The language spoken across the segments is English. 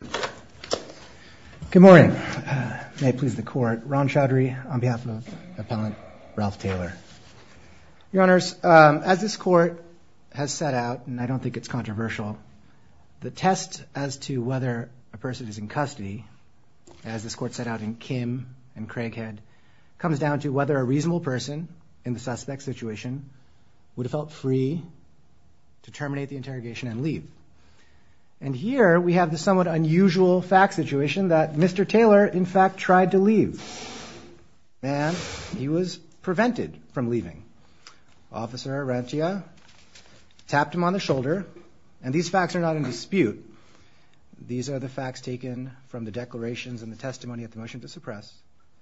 Good morning. May it please the court. Ron Chaudhary on behalf of Appellant Ralph Taylor. Your honors, as this court has set out, and I don't think it's controversial, the test as to whether a person is in custody, as this court set out in Kim and Craighead, comes down to whether a reasonable person in the suspect situation would have felt free to terminate the interrogation and leave. And here we have the somewhat unusual fact situation that Mr. Taylor, in fact, tried to leave and he was prevented from leaving. Officer Arantia tapped him on the shoulder, and these facts are not in dispute. These are the facts taken from the declarations and the testimony at the motion to suppress.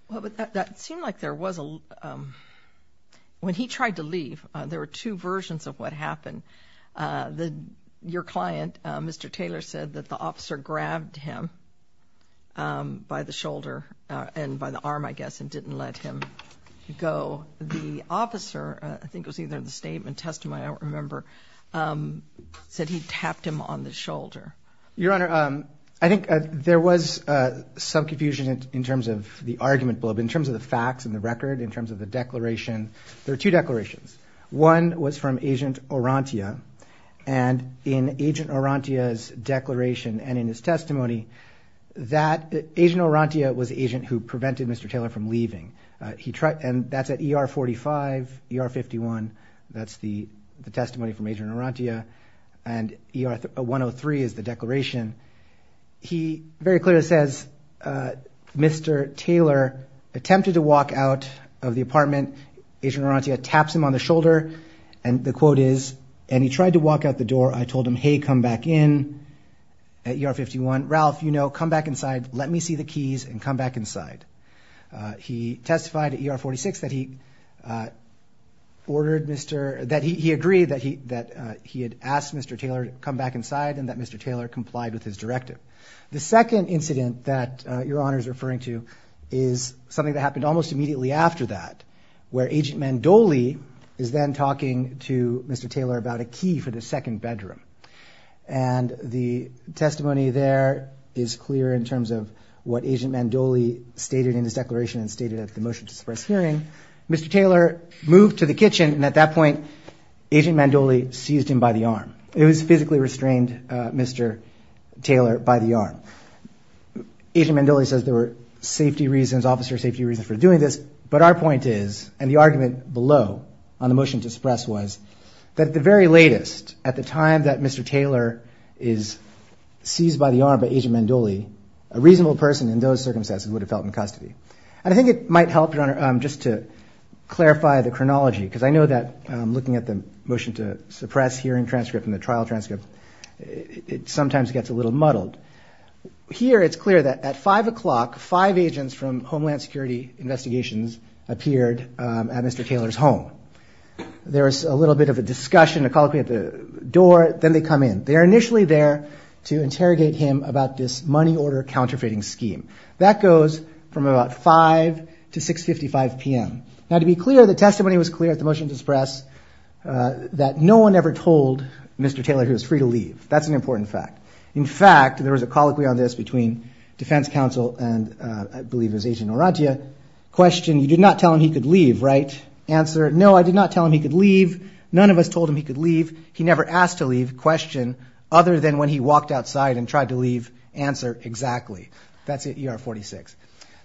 Well, but that seemed like there was a... when he tried to leave, there were two versions of what happened. Your client, Mr. Taylor, said that the officer grabbed him by the shoulder and by the arm, I guess, and didn't let him go. The officer, I think it was either the statement, testimony, I don't remember, said he tapped him on the shoulder. Your honor, I think there was some confusion in terms of the argument blow, but in terms of the facts and the record, in terms of the declaration, there was a statement from Agent Arantia, and in Agent Arantia's declaration and in his testimony, that Agent Arantia was the agent who prevented Mr. Taylor from leaving. He tried... and that's at ER 45, ER 51, that's the testimony from Agent Arantia, and ER 103 is the declaration. He very clearly says, Mr. Taylor attempted to walk out of the apartment. Agent Arantia taps him on the shoulder, and the tried to walk out the door. I told him, hey, come back in at ER 51. Ralph, you know, come back inside, let me see the keys, and come back inside. He testified at ER 46 that he ordered Mr... that he agreed that he that he had asked Mr. Taylor to come back inside, and that Mr. Taylor complied with his directive. The second incident that your honor is referring to is something that happened almost immediately after that, where Agent Mandoli is then talking to Mr. Taylor about a key for the second bedroom, and the testimony there is clear in terms of what Agent Mandoli stated in his declaration and stated at the motion to suppress hearing. Mr. Taylor moved to the kitchen, and at that point, Agent Mandoli seized him by the arm. It was physically restrained, Mr. Taylor, by the arm. Agent Mandoli says there were safety reasons, officer safety reasons for doing this, but our point is, and the argument below on the motion to suppress was, that at the very latest, at the time that Mr. Taylor is seized by the arm by Agent Mandoli, a reasonable person in those circumstances would have felt in custody. And I think it might help, your honor, just to clarify the chronology, because I know that 5 o'clock, five agents from Homeland Security Investigations appeared at Mr. Taylor's home. There was a little bit of a discussion, a colloquy at the door, then they come in. They're initially there to interrogate him about this money order counterfeiting scheme. That goes from about 5 to 6 55 p.m. Now to be clear, the testimony was clear at the motion to suppress that no one ever told Mr. Taylor he was free to leave. That's an important fact. In fact, there was a council, and I believe it was Agent Orantia, question, you did not tell him he could leave, right? Answer, no I did not tell him he could leave. None of us told him he could leave. He never asked to leave, question, other than when he walked outside and tried to leave. Answer, exactly. That's ER 46.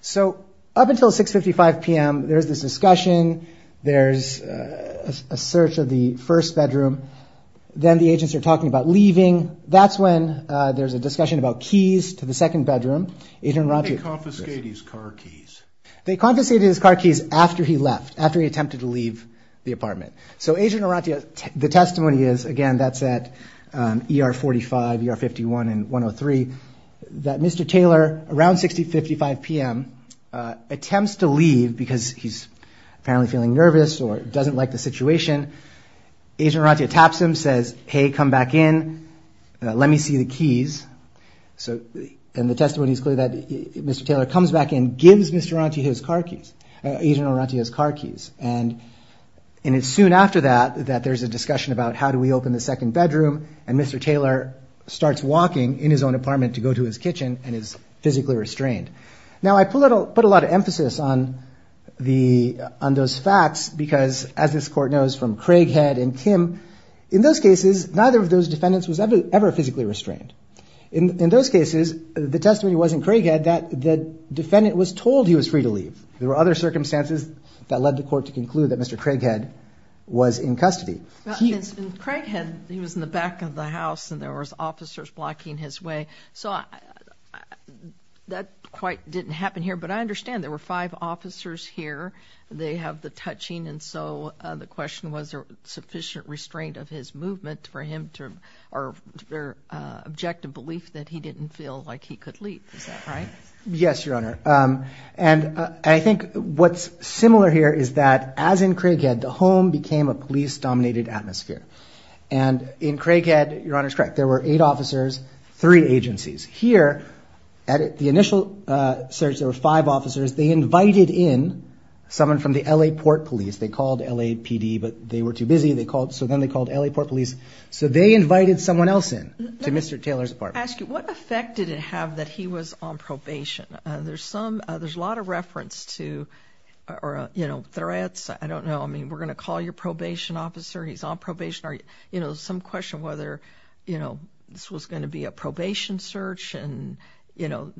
So up until 6 55 p.m. there's this discussion, there's a search of the first bedroom, then the agents are talking about leaving. That's when there's a discussion about keys to the second bedroom. They confiscated his car keys after he left, after he attempted to leave the apartment. So Agent Orantia, the testimony is, again that's at ER 45, ER 51, and 103, that Mr. Taylor around 6 55 p.m. attempts to leave because he's apparently feeling nervous or doesn't like the situation. Agent the testimony is clear that Mr. Taylor comes back and gives Mr. Orantia his car keys, Agent Orantia's car keys, and it's soon after that that there's a discussion about how do we open the second bedroom, and Mr. Taylor starts walking in his own apartment to go to his kitchen and is physically restrained. Now I put a lot of emphasis on those facts because as this court knows from Craighead and Kim, in those cases neither of those defendants was ever physically restrained. In those cases, the testimony was in Craighead that the defendant was told he was free to leave. There were other circumstances that led the court to conclude that Mr. Craighead was in custody. In Craighead, he was in the back of the house and there was officers blocking his way, so that quite didn't happen here, but I understand there were five officers here, they have the touching, and so the question was there sufficient restraint of his movement for him to, or their objective belief that he didn't feel like he could leave, right? Yes, Your Honor, and I think what's similar here is that as in Craighead, the home became a police-dominated atmosphere, and in Craighead, Your Honor's correct, there were eight officers, three agencies. Here, at the initial search, there were five officers. They invited in someone from the L.A. Port Police. They called LAPD, but they were too busy, they called, so then they called L.A. Port Police, so they invited someone else in to Mr. Taylor's apartment. Let me ask you, what effect did it have that he was on probation? There's some, there's a lot of reference to, or you know, threats, I don't know, I mean, we're gonna call your probation officer, he's on probation, or you know, some question whether, you know, this was going to be a probation search, and you know,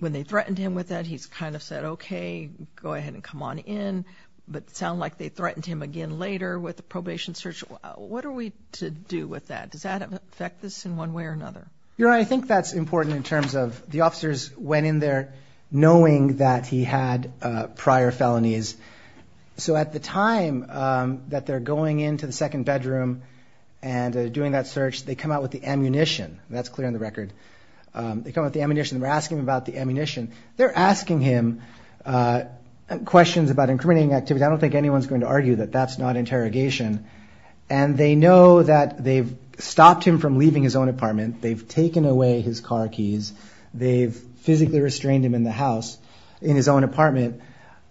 when they sound like they threatened him again later with the probation search, what are we to do with that? Does that affect this in one way or another? Your Honor, I think that's important in terms of the officers went in there knowing that he had prior felonies, so at the time that they're going into the second bedroom and doing that search, they come out with the ammunition. That's clear on the record. They come with the ammunition. We're asking about the ammunition. They're asking him questions about incriminating activity. I don't think anyone's going to argue that that's not interrogation, and they know that they've stopped him from leaving his own apartment. They've taken away his car keys. They've physically restrained him in the house, in his own apartment.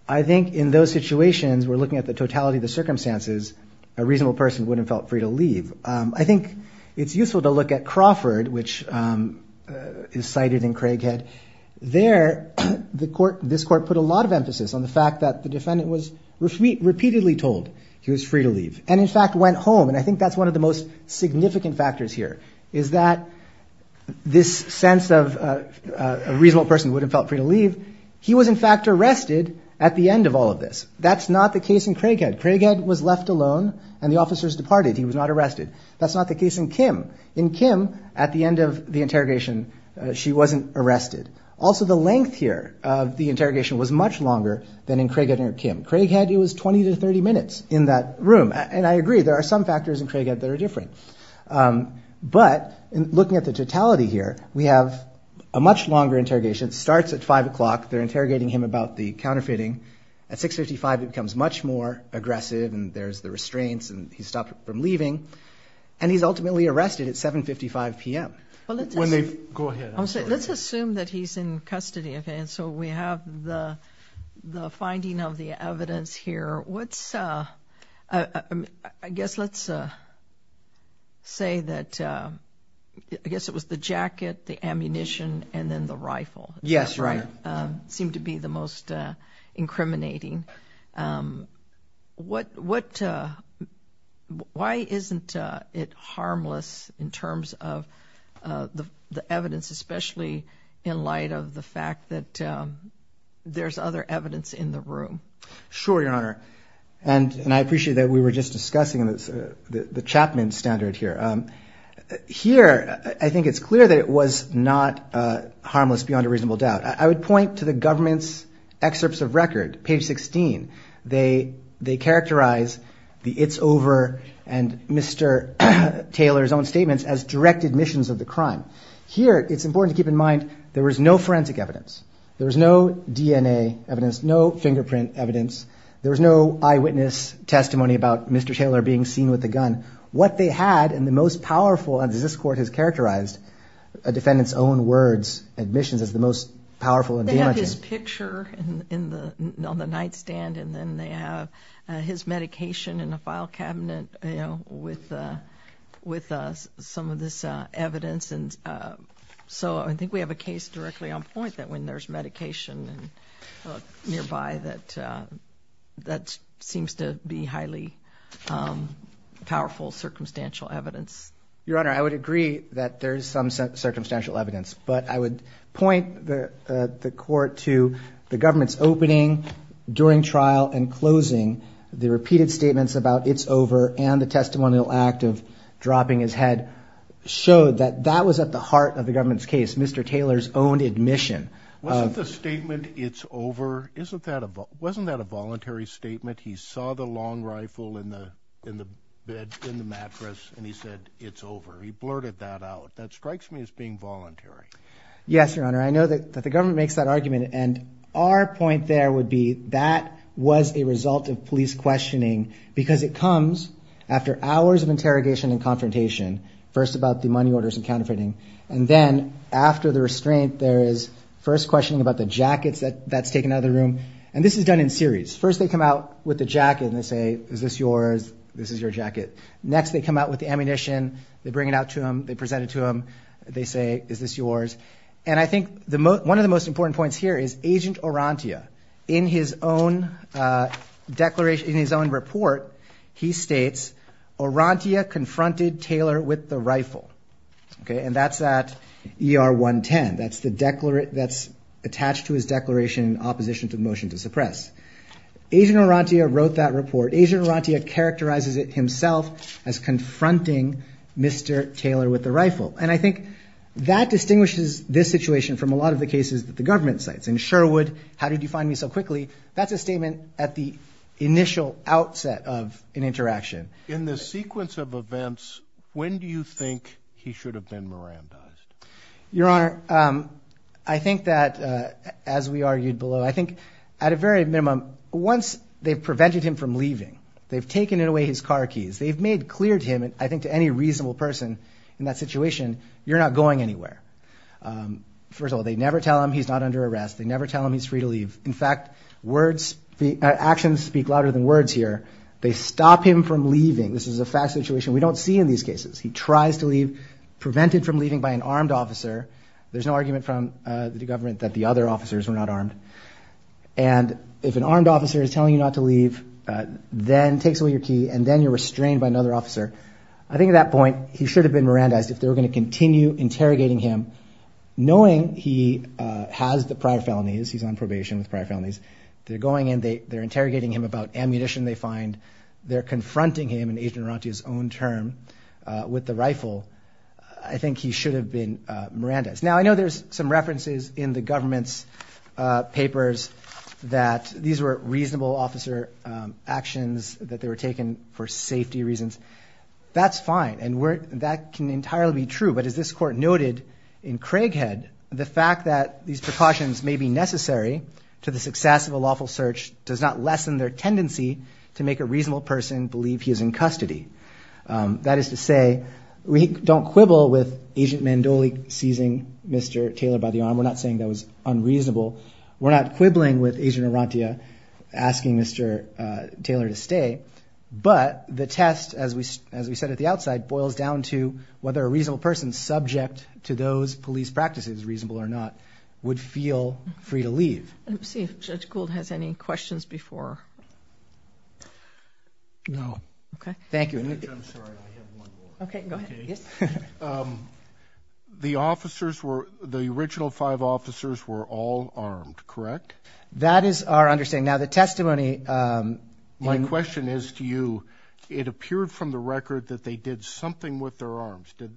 I think in those situations, we're looking at the totality of the circumstances, a reasonable person wouldn't felt free to leave. I think it's useful to look at Crawford, which is this court put a lot of emphasis on the fact that the defendant was repeatedly told he was free to leave, and in fact went home, and I think that's one of the most significant factors here, is that this sense of a reasonable person wouldn't felt free to leave, he was in fact arrested at the end of all of this. That's not the case in Craighead. Craighead was left alone, and the officers departed. He was not arrested. That's not the case in Kim. In Kim, at the end of the interrogation, she wasn't arrested. Also, the length here of the interrogation was much longer than in Craighead or Kim. Craighead, it was 20 to 30 minutes in that room, and I agree there are some factors in Craighead that are different, but in looking at the totality here, we have a much longer interrogation. It starts at 5 o'clock. They're interrogating him about the counterfeiting. At 6.55, it becomes much more aggressive, and there's the restraints, and he's stopped from leaving, and he's ultimately arrested at 7.55 p.m. Let's assume that he's in custody, and so we have the finding of the evidence here. What's, I guess, let's say that, I guess it was the jacket, the ammunition, and then the rifle. Yes, right. Seemed to be the most the evidence, especially in light of the fact that there's other evidence in the room. Sure, Your Honor, and I appreciate that we were just discussing the Chapman standard here. Here, I think it's clear that it was not harmless beyond a reasonable doubt. I would point to the government's excerpts of record, page 16. They characterize the it's over and Mr. Taylor's own statements as direct admissions of the crime. Here, it's important to keep in mind there was no forensic evidence. There was no DNA evidence, no fingerprint evidence. There was no eyewitness testimony about Mr. Taylor being seen with a gun. What they had, and the most powerful, as this court has characterized a defendant's own words, admissions, is the most powerful and damaging. They have his picture on the nightstand, and then they have his medication in a file cabinet, you know, with some of this evidence. And so, I think we have a case directly on point that when there's medication nearby, that that seems to be highly powerful circumstantial evidence. Your Honor, I would agree that there's some circumstantial evidence, but I would point the court to the government's opening during trial and closing, the repeated statements about it's over, and the testimonial act of dropping his head showed that that was at the heart of the government's case, Mr. Taylor's own admission. Wasn't the statement it's over, wasn't that a voluntary statement? He saw the long rifle in the mattress and he said it's over. He blurted that out. That strikes me as being voluntary. Yes, Your Honor. I know that the government makes that argument, and our point there would be that was a result of police first about the money orders and counterfeiting, and then after the restraint, there is first questioning about the jackets that's taken out of the room. And this is done in series. First, they come out with the jacket and they say, is this yours? This is your jacket. Next, they come out with the ammunition. They bring it out to him. They present it to him. They say, is this yours? And I think one of the most important points here is Agent Orantia. In his own report, he states, Orantia confronted Taylor with the rifle. And that's at ER 110. That's attached to his declaration in opposition to the motion to suppress. Agent Orantia wrote that report. Agent Orantia characterizes it himself as confronting Mr. Taylor with the rifle. And I think that distinguishes this situation from a lot of the cases that the government cites. In Sherwood, how did you find me so quickly? That's a statement at the initial outset of an interaction. In the sequence of events, when do you think he should have been Mirandized? Your Honor, I think that, as we argued below, I think at a very minimum, once they've prevented him from leaving, they've taken away his car keys, they've made clear to him, and I think to any reasonable person in that situation, you're not going anywhere. First of all, they never tell him he's not under arrest. They never tell him he's free to leave. In fact, actions speak louder than words here. They stop him from leaving. This is a fact situation we don't see in these cases. He tries to leave, prevented from leaving by an armed officer. There's no argument from the government that the other officers were not armed. And if an armed officer is telling you not to leave, then takes away your key, and then you're restrained by another officer, I think at that point, he should have been Mirandized. If they were going to continue interrogating him, knowing he has the prior felonies, he's on probation with prior felonies, they're going in, they're interrogating him about ammunition they find, they're confronting him, in Agent Aranti's own term, with the rifle, I think he should have been Mirandized. Now, I know there's some references in the government's papers that these were reasonable officer actions, that they were taken for safety reasons. That's fine, and that can entirely be true, but as this court noted in Craighead, the fact that these precautions may be necessary to the success of a lawful search does not lessen their tendency to make a reasonable person believe he is in custody. That is to say, we don't quibble with Agent Mandoli seizing Mr. Taylor by the arm. We're not saying that was unreasonable. We're not quibbling with Agent Aranti asking Mr. Taylor to stay, but the test, as we said at the outside, boils down to whether a reasonable person, subject to those police practices, reasonable or not, would feel free to leave. Let's see if Judge Gould has any questions before... No. Okay, thank you. I'm sorry, I have one more. Okay, go ahead. Okay, the officers were, the original five officers were all armed, correct? That is our understanding. Now, the testimony... My question is to you, it appeared from the record that they did something with their arms. Did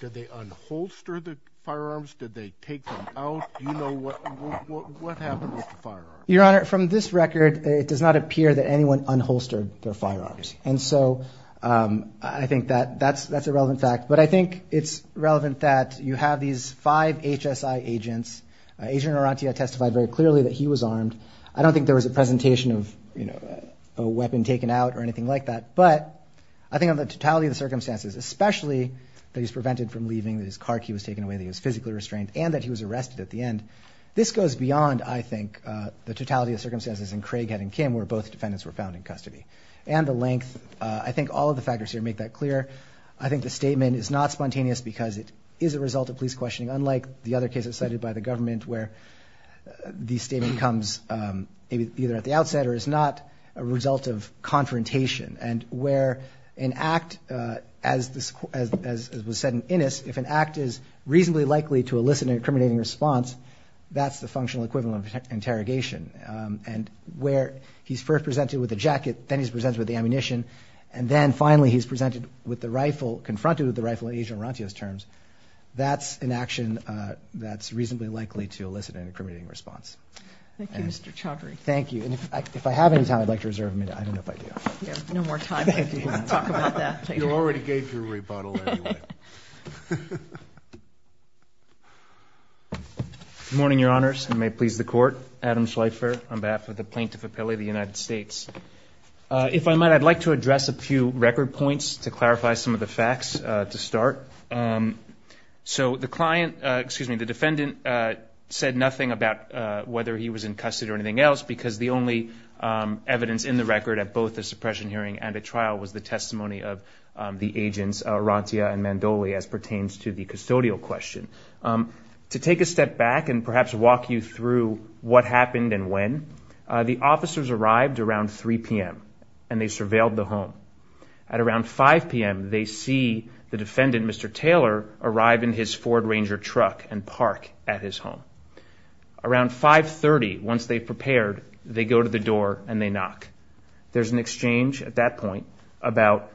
they unholster the firearms? Did they take them out? Do you know what happened with the firearms? Your Honor, from this record, it does not appear that anyone unholstered their firearms. And so I think that that's a relevant fact. But I think it's relevant that you have these five HSI agents. Agent Aranti had testified very clearly that he was armed. I don't think there was a presentation of, you know, a weapon taken out or anything like that. But I think of the totality of the circumstances, especially that he's prevented from leaving, that his car key was taken away, that he was physically restrained, and that he was arrested at the end. This goes beyond, I think, the totality of circumstances in Craighead and Kim, where both defendants were found in custody. And the length, I think all of the factors here make that clear. I think the statement is not spontaneous because it is a result of police questioning, unlike the other cases cited by the government where the statement comes either at the outset or is not a result of confrontation. And where an act, as was said in Innis, if an act is reasonably likely to elicit an incriminating response, that's the functional equivalent of interrogation. And where he's first presented with a jacket, then he's presented with the ammunition, and then finally he's presented with the rifle, confronted with the rifle in Agent Aranti's terms, that's an action that's reasonably likely to elicit an incriminating response. Thank you, Mr. Chaudhary. Thank you. And if I have any time, I'd like to reserve a minute. I don't know if I do. No more time to talk about that. You already gave your rebuttal anyway. Good morning, Your Honors, and may it please the Court. Adam Schleifer on behalf of the Plaintiff Appellee of the United States. If I might, I'd like to address a few record points to clarify some of the facts to start. So the client, excuse me, the defendant said nothing about whether he was in custody or anything else because the only evidence in the record at both the suppression hearing and at trial was the testimony of the agents, Arantia and Mandoli, as pertains to the custodial question. To take a step back and perhaps walk you through what happened and when, the officers arrived around 3 p.m. and they surveilled the home. At around 5 p.m., they see the defendant, Mr. Taylor, arrive in his Ford Ranger truck and park at his home. Around 5.30, once they've prepared, they go to the door and they knock. There's an exchange at that point about,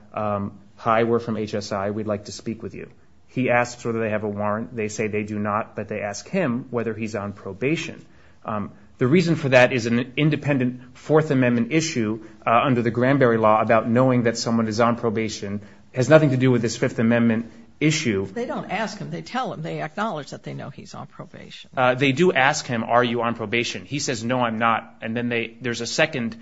hi, we're from HSI, we'd like to speak with you. He asks whether they have a warrant. They say they do not, but they ask him whether he's on probation. The reason for that is an independent Fourth Amendment issue under the Granberry Law about knowing that someone is on probation has nothing to do with this Fifth Amendment issue. They don't ask him, they tell him, they acknowledge that they know he's on probation. They do ask him, are you on probation? He says, no, I'm not. And then there's a second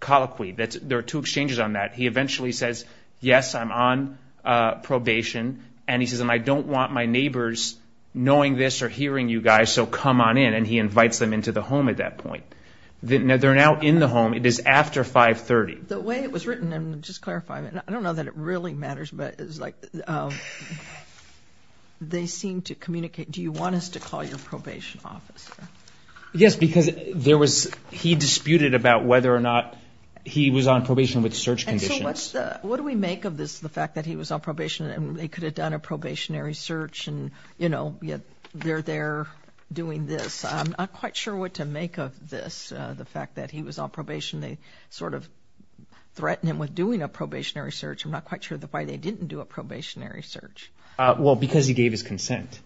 colloquy. There are two exchanges on that. He eventually says, yes, I'm on probation. And he says, and I don't want my neighbors knowing this or hearing you guys, so come on in. And he invites them into the home at that point. They're now in the home. It is after 5.30. The way it was written, and just clarifying, I don't know that it really matters, but it was like they seem to communicate, do you want us to call your probation officer? Yes, because there was, he disputed about whether or not he was on probation with search conditions. And so what's the, what do we make of this, the fact that he was on probation and they could have done a probationary search and, you know, yet they're there doing this? I'm not quite sure what to make of this, the fact that he was on probation. They sort of threatened him with doing a probationary search. I'm not quite sure why they didn't do a probationary search. Well, because he gave his consent.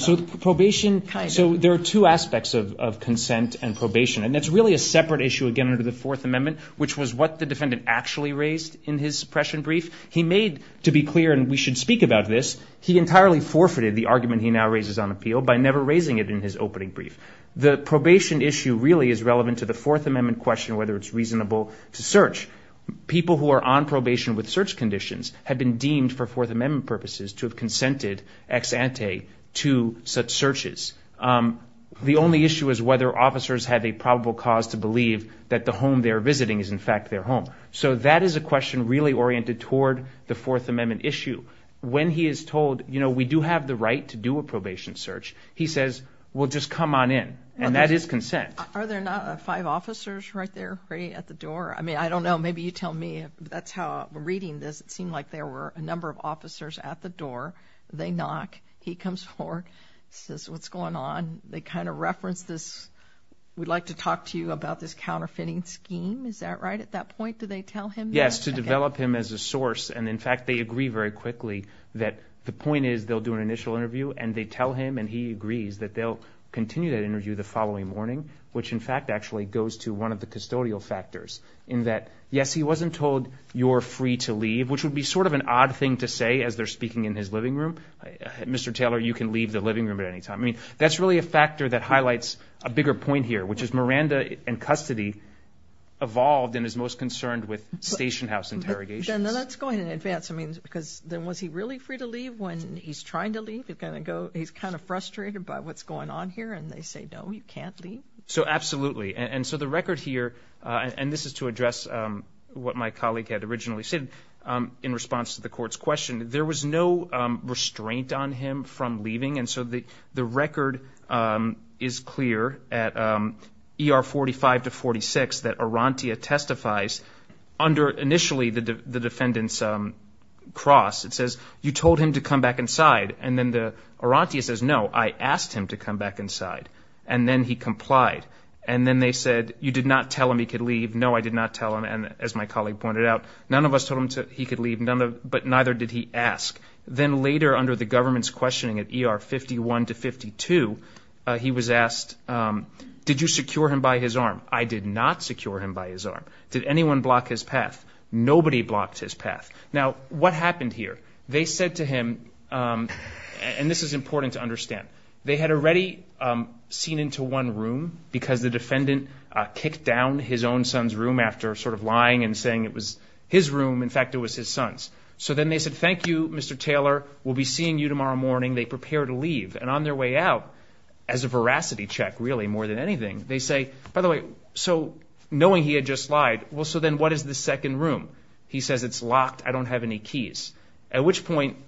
So probation, so there are two aspects of consent and probation, and it's really a separate issue, again, under the Fourth Amendment, which was what the defendant actually raised in his suppression brief. He made, to be clear, and we should speak about this, he entirely forfeited the argument he now raises on appeal by never raising it in his opening brief. The probation issue really is relevant to the Fourth Amendment question whether it's reasonable to search. People who are on probation with search conditions have been deemed for Fourth Amendment purposes to have consented ex ante to such searches. The only issue is whether officers have a probable cause to believe that the home they're visiting is, in fact, their home. So that is a question really oriented toward the Fourth Amendment issue. When he is told, you know, we do have the right to do a probation search, he says, well, just come on in. And that is consent. Are there not five officers right there waiting at the door? I mean, I don't know. Maybe you tell me if that's how I'm reading this. It seemed like there were a number of officers at the door. They knock. He comes forward, says, what's going on? They kind of reference this, we'd like to talk to you about this counterfeiting scheme. Is that right at that point? Do they tell him? Yes, to develop him as a source. And, in fact, they agree very quickly that the point is they'll do an initial interview, and they tell him and he agrees that they'll continue that interview the following morning, which, in fact, actually goes to one of the custodial factors in that, yes, he wasn't told you're free to leave, which would be sort of an odd thing to say as they're speaking in his living room. Mr. Taylor, you can leave the living room at any time. I mean, that's really a factor that highlights a bigger point here, which is Miranda in custody evolved and is most concerned with station house interrogation. And that's going in advance. I mean, because then was he really free to leave when he's trying to leave? He's kind of frustrated by what's going on here. And they say, no, you can't leave. So, absolutely. And so the record here, and this is to address what my colleague had originally said in response to the court's question, there was no restraint on him from leaving. And so the record is clear at ER 45 to 46 that Arantia testifies under initially the defendant's cross. It says, you told him to come back inside. And then Arantia says, no, I asked him to come back inside. And then he complied. And then they said, you did not tell him he could leave. No, I did not tell him. And as my colleague pointed out, none of us told him he could leave, but neither did he ask. Then later under the government's questioning at ER 51 to 52, he was asked, did you secure him by his arm? I did not secure him by his arm. Did anyone block his path? Nobody blocked his path. Now, what happened here? They said to him, and this is important to understand, they had already seen into one room because the defendant kicked down his own son's room after sort of lying and saying it was his room. In fact, it was his son's. So then they said, thank you, Mr. Taylor. We'll be seeing you tomorrow morning. They prepare to leave. And on their way out, as a veracity check, really, more than anything, they say, by the way, so knowing he had just lied, well, so then what is the second room? He says, it's locked. I don't have any keys. At which point,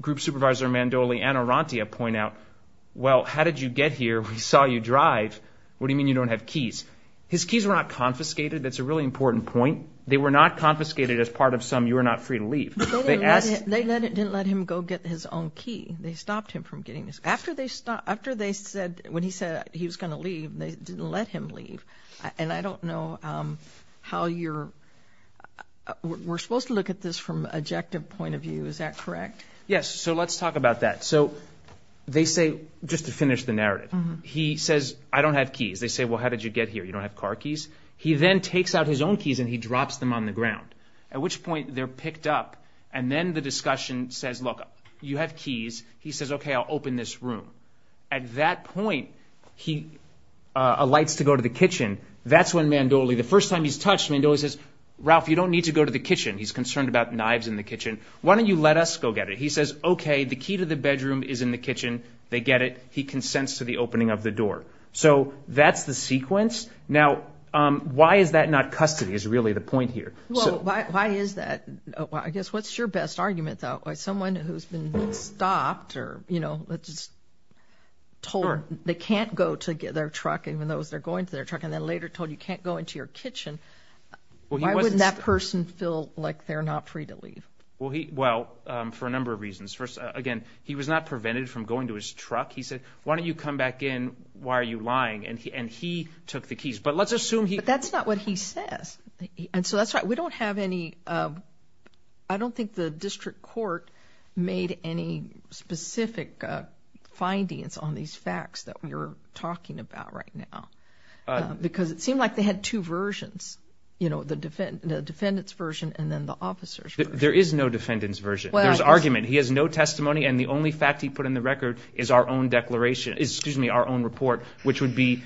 Group Supervisor Mandoli and Arantia point out, well, how did you get here? We saw you drive. What do you mean you don't have keys? His keys were not confiscated. That's a really important point. They were not confiscated as part of some you are not free to leave. They didn't let him go get his own key. They stopped him from getting his. After they said, when he said he was going to leave, they didn't let him leave. And I don't know how you're, we're supposed to look at this from an objective point of view. Is that correct? Yes. So let's talk about that. So they say, just to finish the narrative, he says, I don't have keys. They say, well, how did you get here? You don't have car keys. He then takes out his own keys and he drops them on the ground, at which point they're picked up. And then the discussion says, look, you have keys. He says, OK, I'll open this room. At that point, he alights to go to the kitchen. That's when Mandoli, the first time he's touched, Mandoli says, Ralph, you don't need to go to the kitchen. He's concerned about knives in the kitchen. Why don't you let us go get it? He says, OK, the key to the bedroom is in the kitchen. They get it. He consents to the opening of the door. So that's the sequence. Now, why is that not custody is really the point here. Well, why is that? I guess what's your best argument, though? By someone who's been stopped or, you know, just told they can't go to get their truck, even though they're going to their truck, and then later told you can't go into your kitchen. Why wouldn't that person feel like they're not free to leave? Well, he well, for a number of reasons. First, again, he was not prevented from going to his truck. He said, why don't you come back in? Why are you lying? And he and he took the keys. But let's assume he that's not what he says. And so that's right. We don't have any. I don't think the district court made any specific findings on these facts that we're talking about right now, because it seemed like they had two versions, you know, the defendant, the defendant's version and then the officers. There is no defendant's version. There's argument. He has no testimony. And the only fact he put in the record is our own declaration, excuse me, our own report, which would be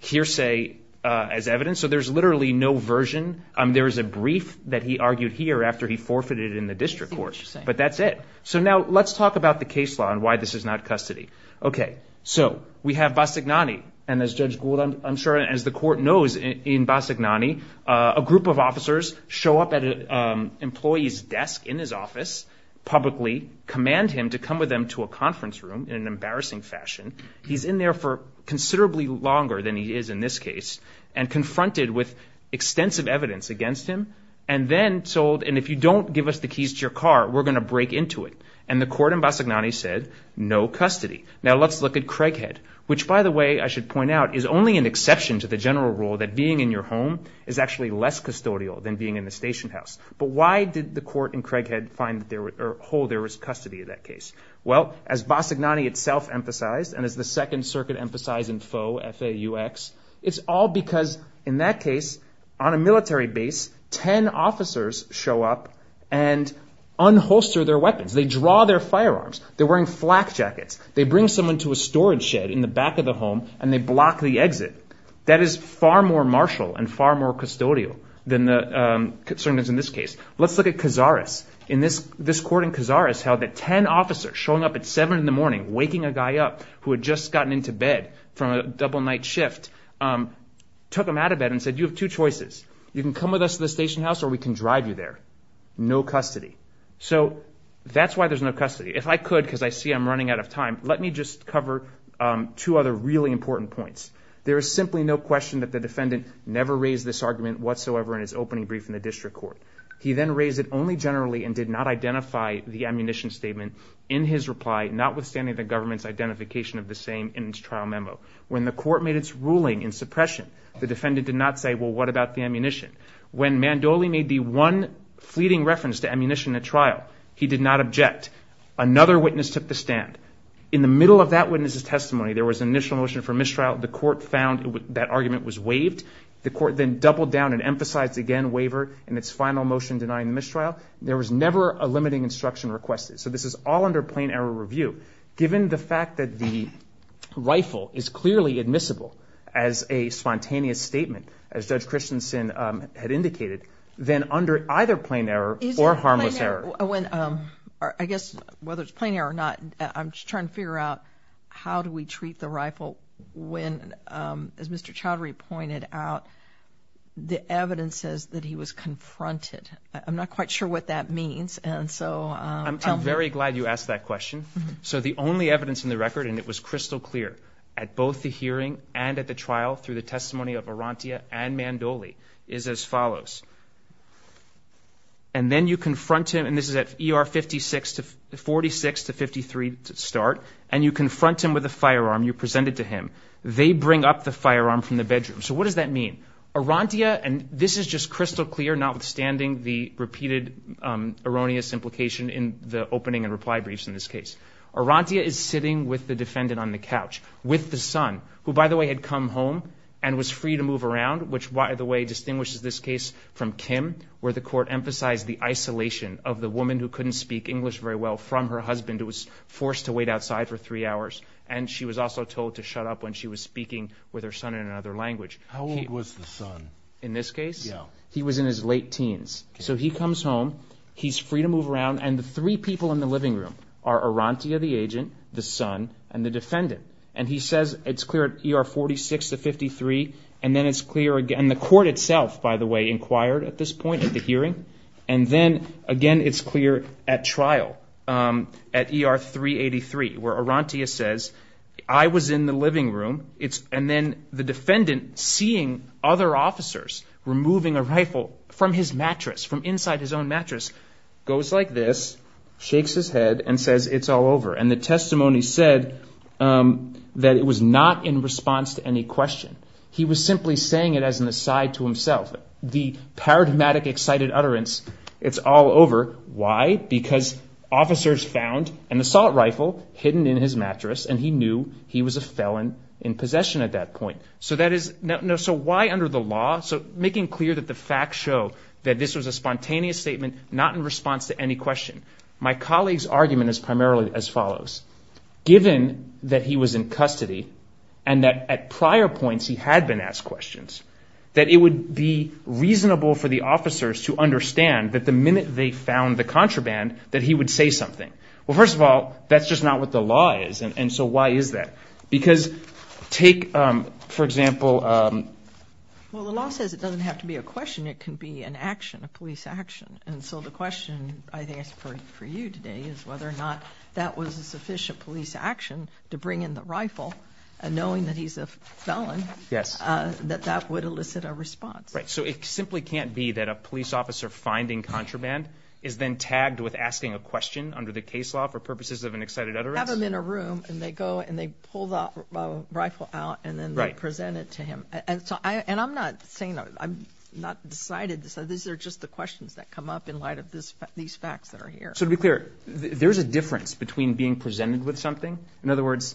hearsay as evidence. So there's literally no version. There is a brief that he argued here after he forfeited in the district court. But that's it. So now let's talk about the case law and why this is not custody. Okay, so we have Bassignani. And as Judge Gould, I'm sure as the court knows in Bassignani, a group of officers show up at an employee's desk in his office publicly, command him to come with them to a conference room in an embarrassing fashion. He's in there for considerably longer than he is in this case and confronted with extensive evidence against him and then told, and if you don't give us the keys to your car, we're going to break into it. And the court in Bassignani said, no custody. Now, let's look at Craighead, which, by the way, I should point out is only an exception to the general rule that being in your home is actually less custodial than being in the station house. But why did the court in Craighead find that there was or hold there was custody of that case? Well, as Bassignani itself emphasized and as the Second Circuit emphasized in FAUX, it's all because in that case, on a military base, 10 officers show up and unholster their weapons. They draw their firearms. They're wearing flak jackets. They bring someone to a storage shed in the back of the home, and they block the exit. That is far more martial and far more custodial than the circumstances in this case. Let's look at Cazares. In this, this court in Cazares held that 10 officers showing up at 7 in the morning, waking a guy up who had just gotten into bed from a double night shift, took him out of bed and said, you have two choices. You can come with us to the station house or we can drive you there. No custody. So that's why there's no custody. If I could, because I see I'm running out of time, let me just cover two other really important points. There is simply no question that the defendant never raised this argument whatsoever in his opening brief in the district court. He then raised it only generally and did not identify the ammunition statement in his reply, notwithstanding the government's identification of the same in his trial memo. When the court made its ruling in suppression, the defendant did not say, well, what about the ammunition? When Mandoli made the one fleeting reference to ammunition at trial, he did not object. Another witness took the stand. In the middle of that witness's testimony, there was an initial motion for mistrial. The court found that argument was waived. The court then doubled down and emphasized again waiver in its final motion denying mistrial. There was never a limiting instruction requested. So this is all under plain error review. Given the fact that the rifle is clearly admissible as a spontaneous statement, as Judge Christensen had indicated, then under either plain error or harmless error. I guess whether it's plain error or not, I'm just trying to figure out how do we treat the rifle when, as Mr. Chaudhary pointed out, the evidence says that he was confronted. I'm not quite sure what that means, and so- I'm very glad you asked that question. So the only evidence in the record, and it was crystal clear at both the hearing and at the trial through the testimony of Arantia and Mandoli, is as follows. And then you confront him, and this is at ER 46 to 53 to start, and you confront him with a firearm. You present it to him. They bring up the firearm from the bedroom. So what does that mean? Arantia, and this is just crystal clear notwithstanding the repeated erroneous implication in the opening and reply briefs in this case. Arantia is sitting with the defendant on the couch with the son, who by the way had come home and was free to move around, which by the way distinguishes this case from Kim, where the court emphasized the isolation of the woman who couldn't speak English very well from her husband who was forced to wait outside for three hours. And she was also told to shut up when she was speaking with her son in another language. How old was the son? In this case? Yeah. He was in his late teens. So he comes home. He's free to move around, and the three people in the living room are Arantia, the agent, the son, and the defendant. And he says, it's clear at ER 46 to 53, and then it's clear again, the court itself, by the way, inquired at this point at the hearing. And then again, it's clear at trial, at ER 383, where Arantia says, I was in the living room, and then the defendant, seeing other officers removing a rifle from his mattress, from inside his own mattress, goes like this, shakes his head, and says, it's all over. And the testimony said that it was not in response to any question. He was simply saying it as an aside to himself. The paradigmatic excited utterance, it's all over. Why? Because officers found an assault rifle hidden in his mattress, and he knew he was a felon in possession at that point. So that is, so why under the law? So making clear that the facts show that this was a spontaneous statement, not in response to any question. My colleague's argument is primarily as follows. Given that he was in custody, and that at prior points he had been asked questions, that it would be reasonable for the officers to understand that the minute they found the contraband, that he would say something. Well, first of all, that's just not what the law is. And so why is that? Because take, for example. Well, the law says it doesn't have to be a question. It can be an action, a police action. And so the question, I think, for you today is whether or not that was a sufficient police action to bring in the rifle. And knowing that he's a felon, that that would elicit a response. Right, so it simply can't be that a police officer finding contraband is then tagged with asking a question under the case law for purposes of an excited utterance? Have him in a room, and they go and they pull the rifle out and then present it to him. And I'm not saying, I'm not decided, so these are just the questions that come up in light of these facts that are here. So to be clear, there's a difference between being presented with something. In other words,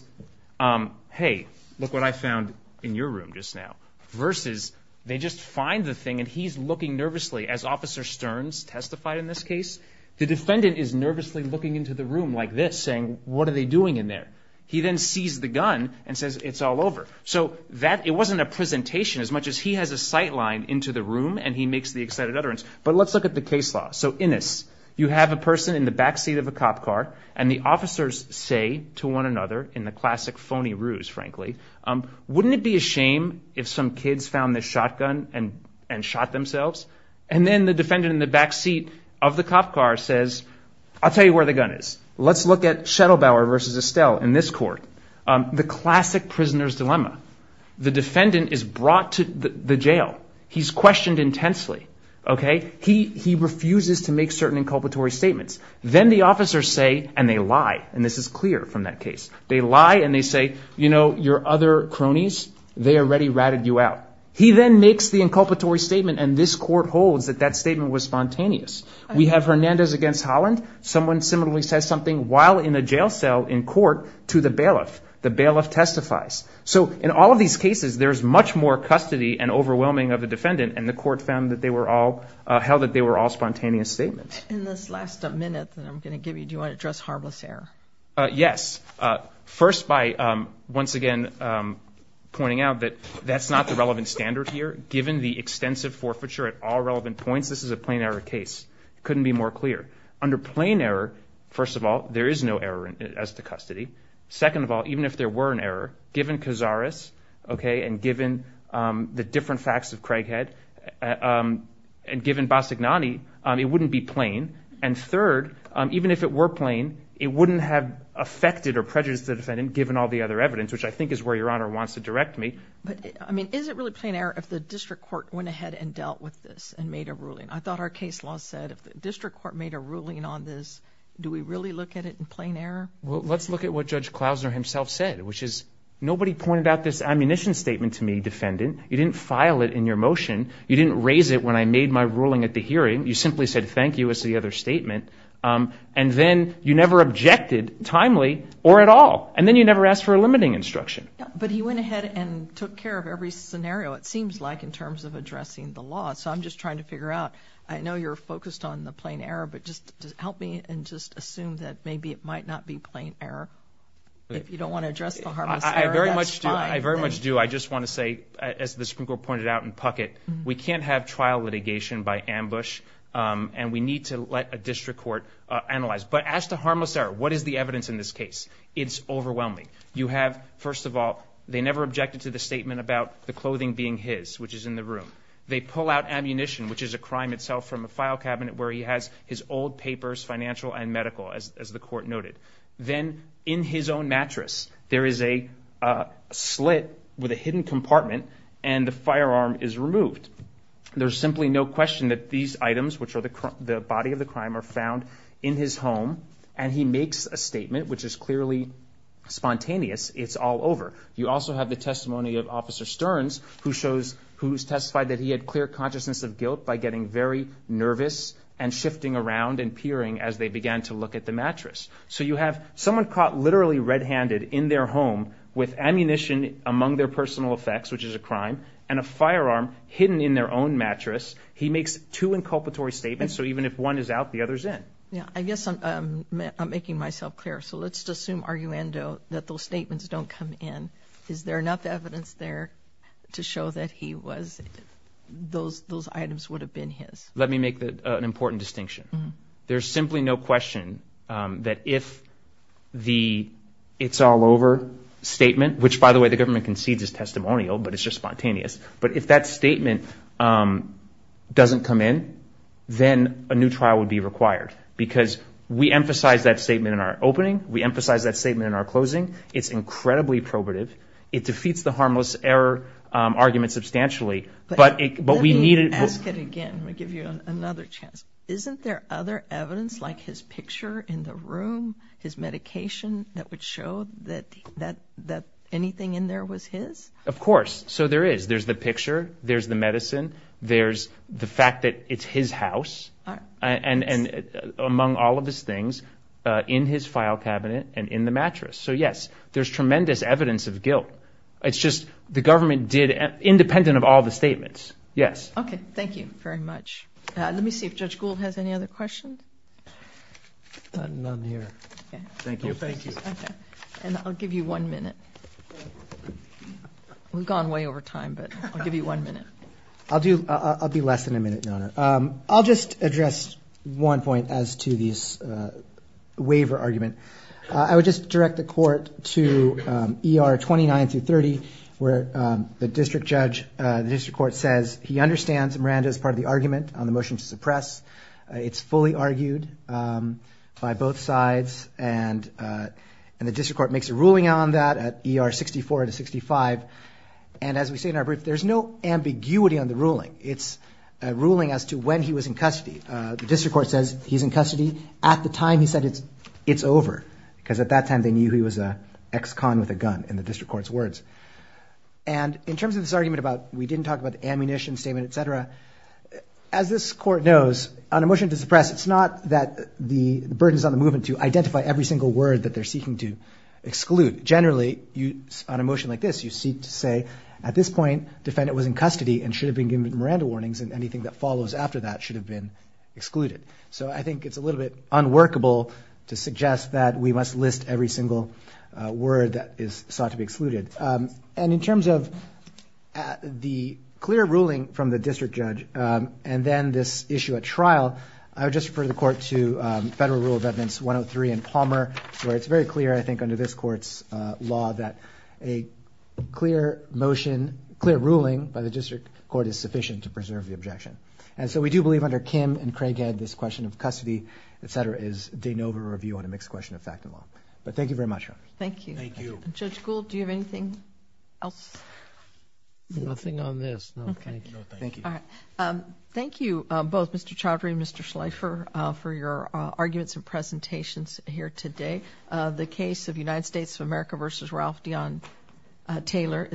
hey, look what I found in your room just now. Versus, they just find the thing and he's looking nervously, as Officer Stearns testified in this case. The defendant is nervously looking into the room like this, saying, what are they doing in there? He then sees the gun and says, it's all over. So that, it wasn't a presentation as much as he has a sight line into the room and he makes the excited utterance. But let's look at the case law. So in this, you have a person in the backseat of a cop car and the officers say to one another in the classic phony ruse, frankly. Wouldn't it be a shame if some kids found this shotgun and shot themselves? And then the defendant in the backseat of the cop car says, I'll tell you where the gun is. Let's look at Schettelbauer versus Estelle in this court. The classic prisoner's dilemma. The defendant is brought to the jail. He's questioned intensely. Okay, he refuses to make certain inculpatory statements. Then the officers say, and they lie, and this is clear from that case. They lie and they say, you know, your other cronies, they already ratted you out. He then makes the inculpatory statement and this court holds that that statement was spontaneous. We have Hernandez against Holland. Someone similarly says something while in a jail cell in court to the bailiff. The bailiff testifies. So in all of these cases, there's much more custody and overwhelming of the defendant, and the court found that they were all, held that they were all spontaneous statements. In this last minute that I'm going to give you, do you want to address harmless error? Yes. First by once again pointing out that that's not the relevant standard here. Given the extensive forfeiture at all relevant points, this is a plain error case. Couldn't be more clear. Under plain error, first of all, there is no error as to custody. Second of all, even if there were an error, given Cazares, okay, and given the different facts of Craighead, and given Bassignani, it wouldn't be plain. And third, even if it were plain, it wouldn't have affected or prejudiced the defendant given all the other evidence, which I think is where your honor wants to direct me. But I mean, is it really plain error if the district court went ahead and dealt with this and made a ruling? I thought our case law said if the district court made a ruling on this, do we really look at it in plain error? Well, let's look at what Judge Klausner himself said, which is nobody pointed out this ammunition statement to me, defendant. You didn't file it in your motion. You didn't raise it when I made my ruling at the hearing. You simply said thank you as the other statement. And then you never objected timely or at all. And then you never asked for a limiting instruction. But he went ahead and took care of every scenario. It seems like in terms of addressing the law. So I'm just trying to figure out, I know you're focused on the plain error, but just help me and just assume that maybe it might not be plain error. If you don't want to address the harmless error, that's fine. I very much do. I just want to say, as the Supreme Court pointed out in Puckett, we can't have trial litigation by ambush and we need to let a district court analyze. But as to harmless error, what is the evidence in this case? It's overwhelming. You have, first of all, they never objected to the statement about the clothing being his, which is in the room. They pull out ammunition, which is a crime itself from a file cabinet where he has his old papers, financial and medical, as the court noted. Then in his own mattress, there is a slit with a hidden compartment and the firearm is removed. There's simply no question that these items, which are the body of the crime, are found in his home. And he makes a statement, which is clearly spontaneous. It's all over. You also have the testimony of Officer Stearns, who's testified that he had clear consciousness of guilt by getting very nervous and shifting around and peering as they began to look at the mattress. So you have someone caught literally red-handed in their home with ammunition among their personal effects, which is a crime, and a firearm hidden in their own mattress. He makes two inculpatory statements. So even if one is out, the other is in. Yeah, I guess I'm making myself clear. So let's just assume, arguendo, that those statements don't come in. Is there enough evidence there to show that those items would have been his? Let me make an important distinction. There's simply no question that if the it's all over statement, which, by the way, the government concedes is testimonial, but it's just spontaneous, but if that statement doesn't come in, then a new trial would be required. Because we emphasize that statement in our opening. We emphasize that statement in our closing. It's incredibly probative. It defeats the harmless error argument substantially, but we need it. Let me ask it again. Let me give you another chance. Isn't there other evidence, like his picture in the room, his medication, that would show that anything in there was his? Of course. So there is. There's the picture. There's the medicine. There's the fact that it's his house. And among all of his things, in his file cabinet and in the mattress. So yes, there's tremendous evidence of guilt. It's just the government did, independent of all the statements. Yes. Okay. Thank you very much. Let me see if Judge Gould has any other questions. None here. Thank you. Thank you. And I'll give you one minute. We've gone way over time, but I'll give you one minute. I'll do, I'll be less than a minute, Donna. I'll just address one point as to this waiver argument. I would just direct the court to ER 29 through 30, where the district judge, the district court says he understands Miranda's part of the argument on the motion to suppress. It's fully argued by both sides, and the district court makes a ruling on that at ER 64 to 65. And as we say in our brief, there's no ambiguity on the ruling. It's a ruling as to when he was in custody. The district court says he's in custody at the time he said it's over, because at that time they knew he was an ex-con with a gun in the district court's words. And in terms of this argument about, we didn't talk about the ammunition statement, et cetera, as this court knows, on a motion to suppress, it's not that the burden is on the movement to identify every single word that they're seeking to exclude. Generally, on a motion like this, you seek to say, at this point, defendant was in custody and should have been given Miranda warnings, and anything that follows after that should have been excluded. So I think it's a little bit unworkable to suggest that we must list every single word that is sought to be excluded. And in terms of the clear ruling from the district judge, and then this issue at trial, I would just refer the court to Federal Rule of Evidence 103 in Palmer, where it's very clear, I think, under this court's law, that a clear ruling by the district court is sufficient to preserve the objection. And so we do believe under Kim and Craighead, this question of custody, et cetera, is de novo review on a mixed question of fact and law. But thank you very much. Thank you. Judge Gould, do you have anything else? Nothing on this. No, thank you. Thank you. Thank you both, Mr. Chaudhry and Mr. Schleifer, for your arguments and presentations here today. The case of United States of America versus Ralph Deon Taylor.